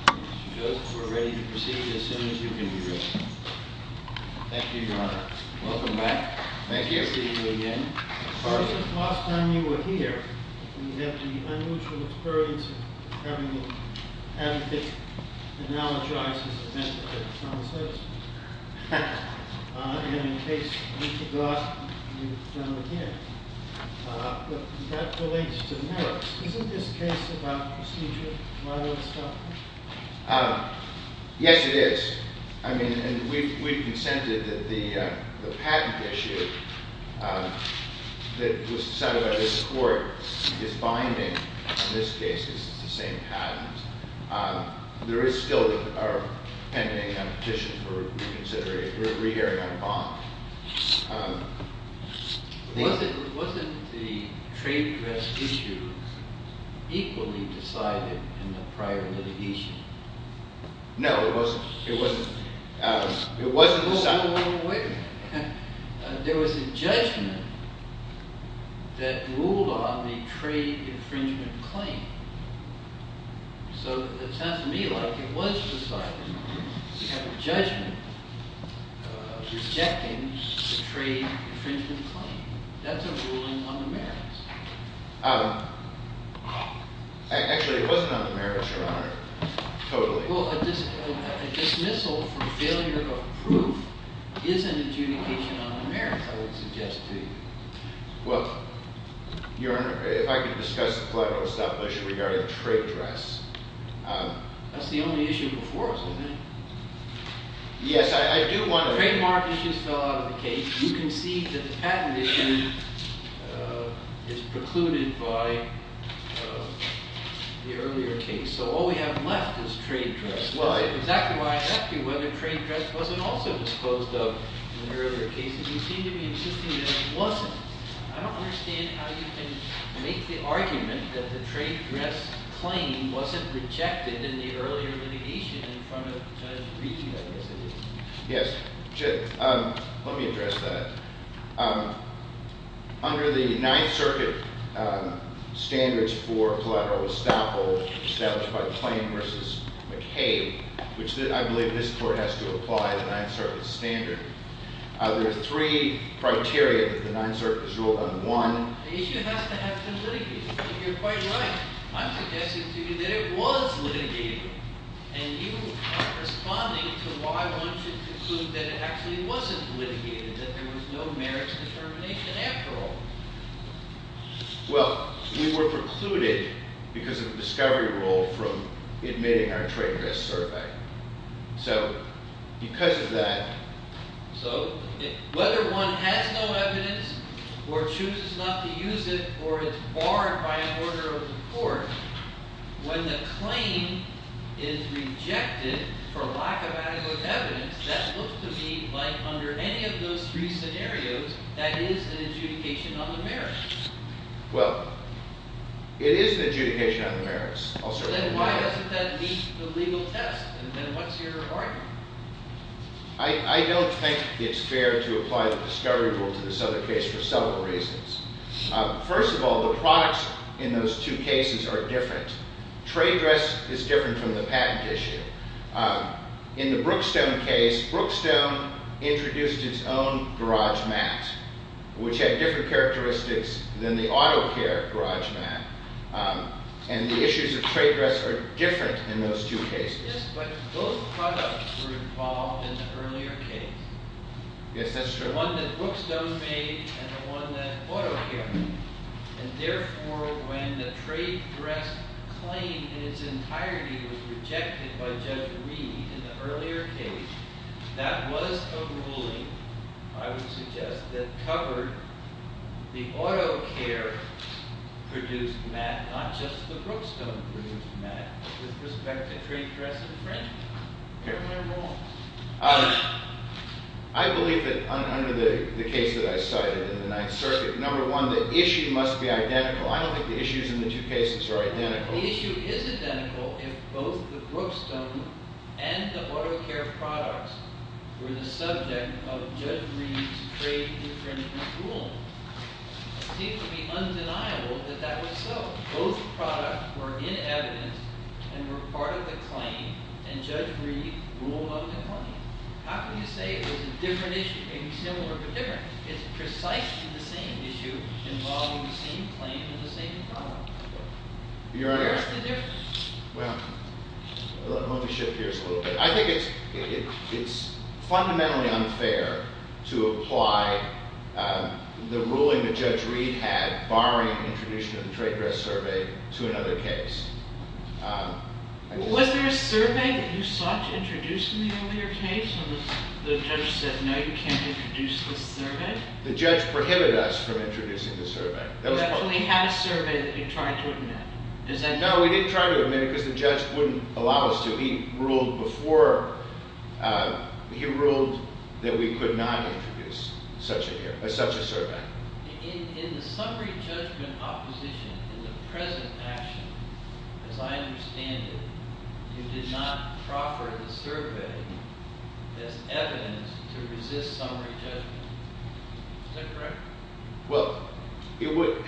Mr. Joseph, we're ready to proceed as soon as you can be ready. Thank you, Your Honor. Welcome back. Thank you for seeing me again. Since the last time you were here, we have the unusual experience of having the advocates analogize this event to the common citizen. And in case we forgot, you've done it again. But that relates to merits. Isn't this case about procedure? Yes, it is. I mean, we've consented that the patent issue that was decided by this court is binding on this case because it's the same patent. There is still a pending petition for reconsideration. We're re-hearing on bond. Wasn't the trade dress issue equally decided in the prior litigation? No, it wasn't. It wasn't decided. There was a judgment that ruled on the trade infringement claim. So it sounds to me like it was decided. We have a judgment rejecting the trade infringement claim. That's a ruling on the merits. Actually, it wasn't on the merits, Your Honor. Totally. Well, a dismissal for failure of proof is an adjudication on the merits, I would suggest to you. Well, Your Honor, if I could discuss the collateral establishment regarding the trade dress. That's the only issue before us, isn't it? Yes, I do want to... The trademark issue fell out of the case. You can see that the patent issue is precluded by the earlier case. So all we have left is trade dress. That's exactly why I asked you whether trade dress wasn't also disposed of in the earlier cases. You seem to be insisting that it wasn't. I don't understand how you can make the argument that the trade dress claim wasn't rejected in the earlier litigation in front of Judge Breeden, I guess it is. Yes. Let me address that. Under the Ninth Circuit standards for collateral estoppel established by Claim v. McCabe, which I believe this Court has to apply the Ninth Circuit standard, there are three criteria that the Ninth Circuit has ruled on. One... The issue has to have been litigated. You're quite right. I'm suggesting to you that it was litigated. And you are responding to why one should conclude that it actually wasn't litigated, that there was no merits determination after all. Well, we were precluded because of the discovery rule from admitting our trade dress survey. So, because of that... So, whether one has no evidence or chooses not to use it or is barred by an order of the Court, when the claim is rejected for lack of adequate evidence, that looks to me like, under any of those three scenarios, that is an adjudication on the merits. Well, it is an adjudication on the merits. I'll certainly... Then why doesn't that meet the legal test? And then what's your argument? I don't think it's fair to apply the discovery rule to this other case for several reasons. First of all, the products in those two cases are different. Trade dress is different from the patent issue. In the Brookstone case, Brookstone introduced its own garage mat, which had different characteristics than the auto care garage mat. And the issues of trade dress are different in those two cases. Yes, but both products were involved in the earlier case. Yes, that's true. The one that Brookstone made and the one that auto care made. And therefore, when the trade dress claim in its entirety was rejected by Judge Reed in the earlier case, that was a ruling, I would suggest, that covered the auto care produced mat, not just the Brookstone produced mat, with respect to trade dress infringement. I believe that under the case that I cited in the Ninth Circuit, number one, the issue must be identical. I don't think the issues in the two cases are identical. The issue is identical if both the Brookstone and the auto care products were the subject of Judge Reed's trade infringement ruling. It seems to be undeniable that that was so. Both products were in evidence and were part of the claim, and Judge Reed ruled on the claim. How can you say it was a different issue? Maybe similar, but different. It's precisely the same issue involving the same claim and the same product. Where's the difference? Well, let me shift gears a little bit. I think it's fundamentally unfair to apply the ruling that Judge Reed had, barring the introduction of the trade dress survey, to another case. Was there a survey that you sought to introduce in the earlier case? And the judge said, no, you can't introduce this survey? The judge prohibited us from introducing the survey. You actually had a survey that you tried to admit. No, we didn't try to admit it because the judge wouldn't allow us to. So he ruled that we could not introduce such a survey. In the summary judgment opposition, in the present action, as I understand it, you did not proffer the survey as evidence to resist summary judgment. Is that correct? Well, it would—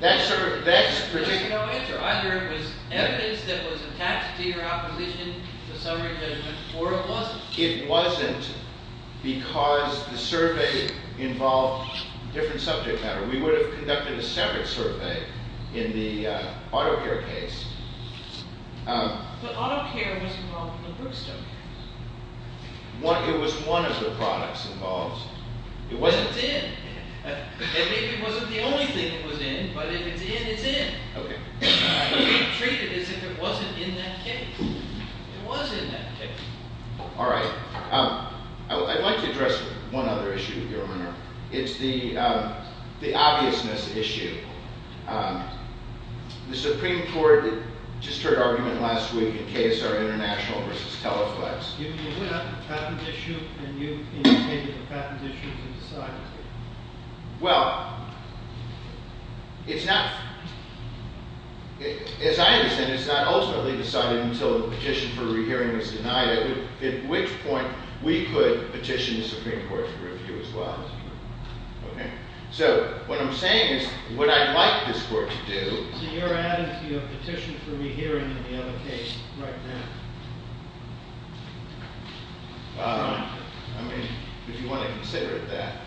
There's no answer. Either it was evidence that was attached to your opposition, the summary judgment, or it wasn't. It wasn't because the survey involved a different subject matter. We would have conducted a separate survey in the auto care case. But auto care was involved in the Brookstone case. It was one of the products involved. It wasn't the end. And maybe it wasn't the only thing that was in, but if it's in, it's in. We treated it as if it wasn't in that case. It was in that case. All right. I'd like to address one other issue, Your Honor. It's the obviousness issue. The Supreme Court just heard argument last week in case our international versus teleplex. You went after the patents issue, and you indicated the patents issue was decided. Well, it's not—as I understand it, it's not ultimately decided until the petition for re-hearing is denied, at which point we could petition the Supreme Court for a view as well. Okay? So, what I'm saying is, what I'd like this Court to do— So, you're adding to your petition for re-hearing in the other case right now? I mean, if you want to consider it that.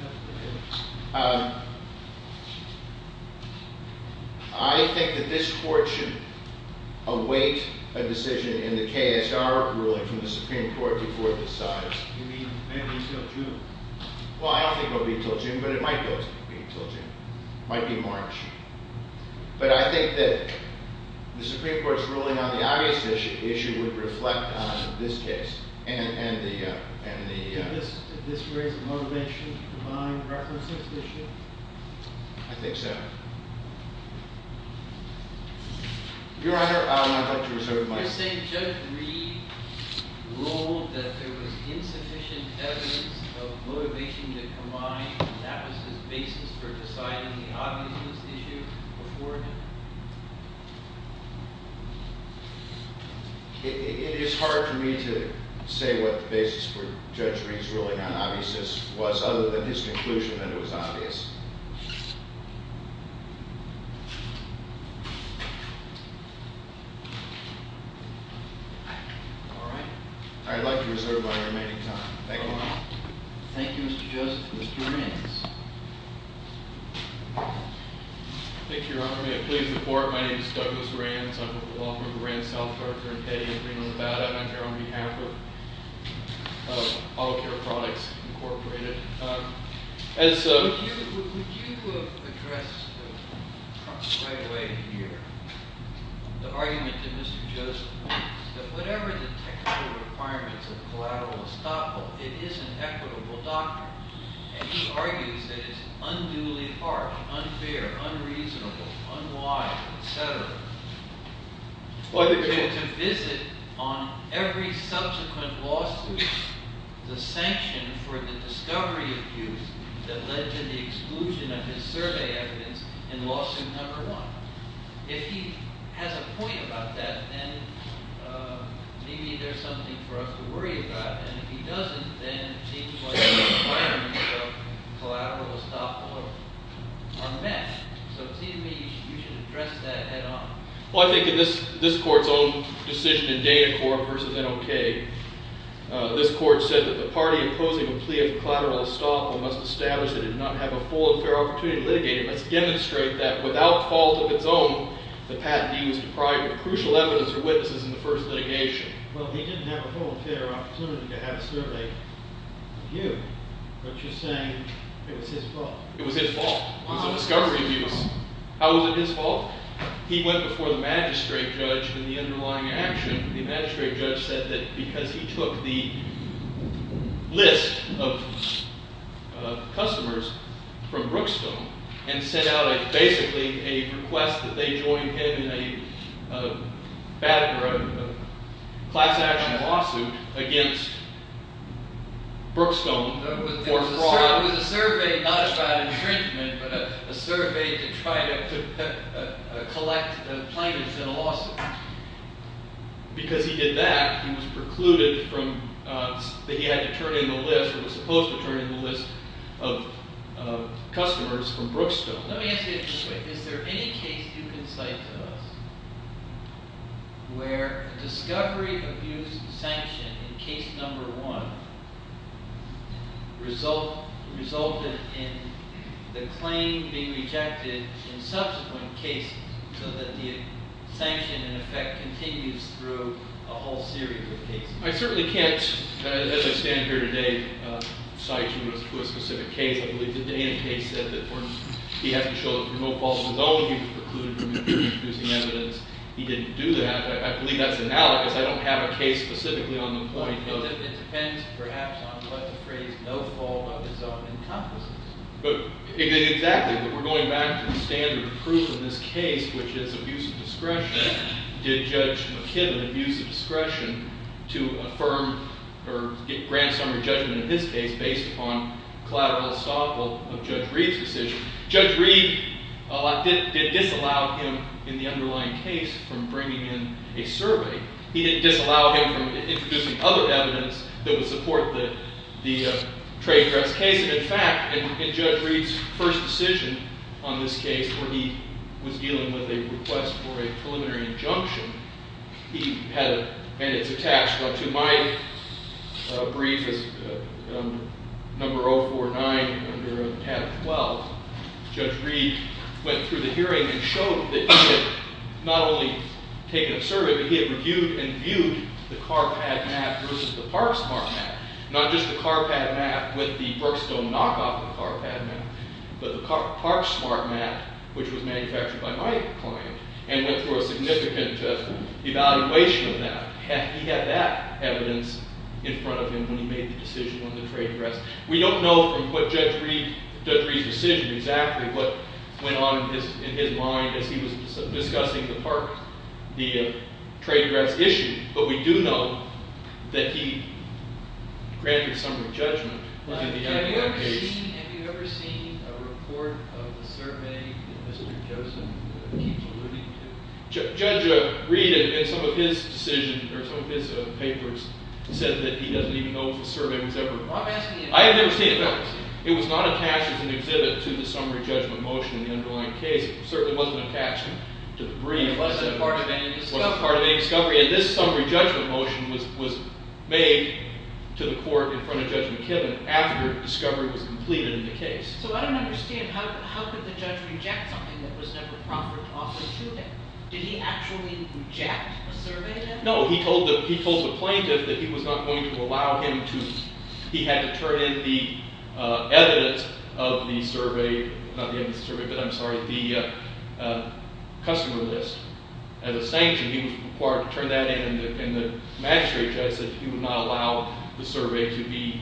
I think that this Court should await a decision in the KSR ruling from the Supreme Court before it decides. You mean, maybe until June? Well, I don't think it will be until June, but it might be until June. It might be March. But I think that the Supreme Court's ruling on the obviousness issue would reflect on this case and the— Did this raise the motivation to combine references issue? I think so. Your Honor, I'd like to reserve the mic. Can I just say Judge Reed ruled that there was insufficient evidence of motivation to combine, and that was his basis for deciding the obviousness issue before him? It is hard for me to say what the basis for Judge Reed's ruling on obviousness was, other than his conclusion that it was obvious. All right. I'd like to reserve my remaining time. Thank you. Thank you, Mr. Joseph. Mr. Rands. Thank you, Your Honor. May it please the Court, my name is Douglas Rands. I'm with the law firm, Rands Health, Arthur and Petty in Greenland, Nevada. I'm here on behalf of Auto Care Products, Incorporated. Would you address right away here the argument that Mr. Joseph made, that whatever the technical requirements of the collateral estoppel, it is an equitable doctrine. And he argues that it's unduly harsh, unfair, unreasonable, unwise, etc. to visit on every subsequent lawsuit the sanction for the discovery of use that led to the exclusion of his survey evidence in lawsuit number one. If he has a point about that, then maybe there's something for us to worry about. And if he doesn't, then it seems like the requirements of collateral estoppel are met. So it seems to me you should address that head on. Well, he didn't have a full and fair opportunity to have a survey of you, but you're saying it was his fault. It was his fault. It was the discovery of use. How was it his fault? He went before the magistrate judge in the underlying action. The magistrate judge said that because he took the list of customers from Brookstone and sent out basically a request that they join him in a class action lawsuit against Brookstone for fraud. It was a survey, not a fraud infringement, but a survey to try to collect plaintiffs in a lawsuit. Because he did that, he was precluded from, that he had to turn in the list, or was supposed to turn in the list of customers from Brookstone. Let me ask you this quick. Is there any case you can cite to us where discovery of use sanction in case number one resulted in the claim being rejected in subsequent cases so that the sanction, in effect, continues through a whole series of cases? I certainly can't, as I stand here today, cite you to a specific case. I believe the Dana case said that he had to show that remote calls were known. He was precluded from using evidence. He didn't do that. I believe that's analogous. I don't have a case specifically on the point of. It depends, perhaps, on what the phrase no fault of his own encompasses. Exactly. We're going back to the standard of proof in this case, which is abuse of discretion. Did Judge McKibben abuse of discretion to affirm or grant summary judgment in this case based upon collateral estoppable of Judge Reed's decision? Judge Reed did disallow him, in the underlying case, from bringing in a survey. He didn't disallow him from introducing other evidence that would support the trade dress case. In fact, in Judge Reed's first decision on this case, where he was dealing with a request for a preliminary injunction, and it's attached to my brief as number 049 under tab 12, Judge Reed went through the hearing and showed that he had not only taken a survey, but he had reviewed and viewed the car pad mat versus the park smart mat, not just the car pad mat with the Brookstone knockoff of the car pad mat, but the park smart mat, which was manufactured by my client, and went through a significant evaluation of that. He had that evidence in front of him when he made the decision on the trade dress. We don't know from Judge Reed's decision exactly what went on in his mind as he was discussing the trade dress issue, but we do know that he granted summary judgment in the underlying case. Have you ever seen a report of the survey that Mr. Joseph keeps alluding to? Judge Reed, in some of his decisions, or some of his papers, said that he doesn't even know if the survey was ever – I have never seen it, no. It was not attached as an exhibit to the summary judgment motion in the underlying case. It certainly wasn't attached to the brief. It wasn't part of any discovery. It wasn't part of any discovery. And this summary judgment motion was made to the court in front of Judge McKibben after discovery was completed in the case. So I don't understand. How could the judge reject something that was never proper to offer to him? Did he actually reject a survey then? No. He told the plaintiff that he was not going to allow him to – he had to turn in the evidence of the survey – not the evidence of the survey, but I'm sorry, the customer list as a sanction. He was required to turn that in, and the magistrate judge said he would not allow the survey to be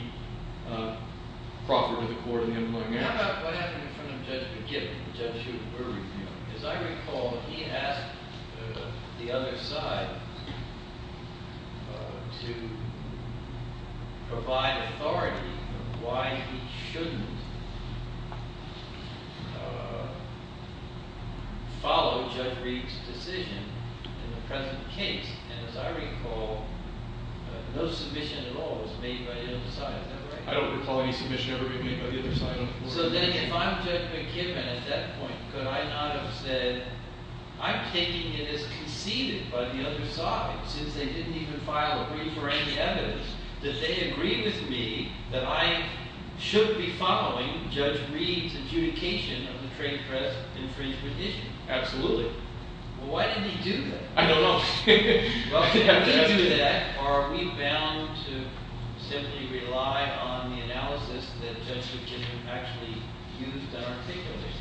proper to the court in the underlying case. How about what happened in front of Judge McKibben? As I recall, he asked the other side to provide authority on why he shouldn't follow Judge Reed's decision in the present case. And as I recall, no submission at all was made by either side. Is that right? I don't recall any submission ever being made by either side. So then if I'm Judge McKibben at that point, could I not have said, I'm taking it as conceded by the other side, since they didn't even file a brief for any evidence, that they agree with me that I should be following Judge Reed's adjudication of the trade press infringement issue? Absolutely. Why did he do that? I don't know. Are we bound to simply rely on the analysis that Judge McKibben actually used and articulated?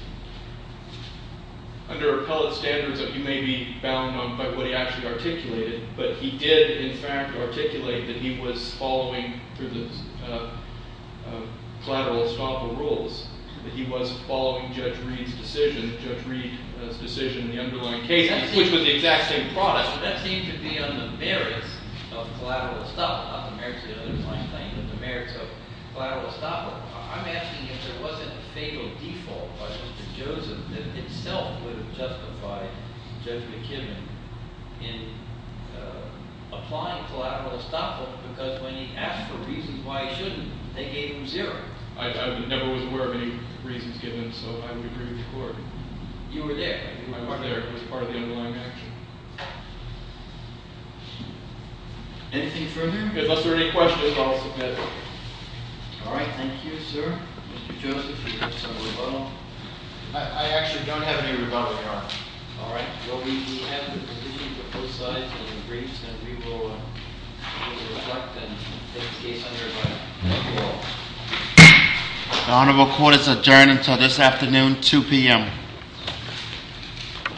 Under appellate standards, you may be bound on what he actually articulated, but he did, in fact, articulate that he was following, through the collateral estoppel rules, that he was following Judge Reed's decision, Judge Reed's decision in the underlying case, which was the exact same product. That seems to be on the merits of collateral estoppel, not the merits of the underlying claim, but the merits of collateral estoppel. I'm asking if there wasn't a fatal default by Mr. Joseph that itself would have justified Judge McKibben in applying collateral estoppel, because when he asked for reasons why he shouldn't, they gave him zero. I never was aware of any reasons given, so I would agree with the Court. You were there. I think my mother was part of the underlying action. Anything further? Unless there are any questions, I'll submit. All right. Thank you, sir. Mr. Joseph, do you have some rebuttal? I actually don't have any rebuttal, Your Honor. All right. Well, we have the position for both sides in the briefs, and we will conduct and take the case under review. Thank you all. The Honorable Court is adjourned until this afternoon, 2 p.m. Thank you.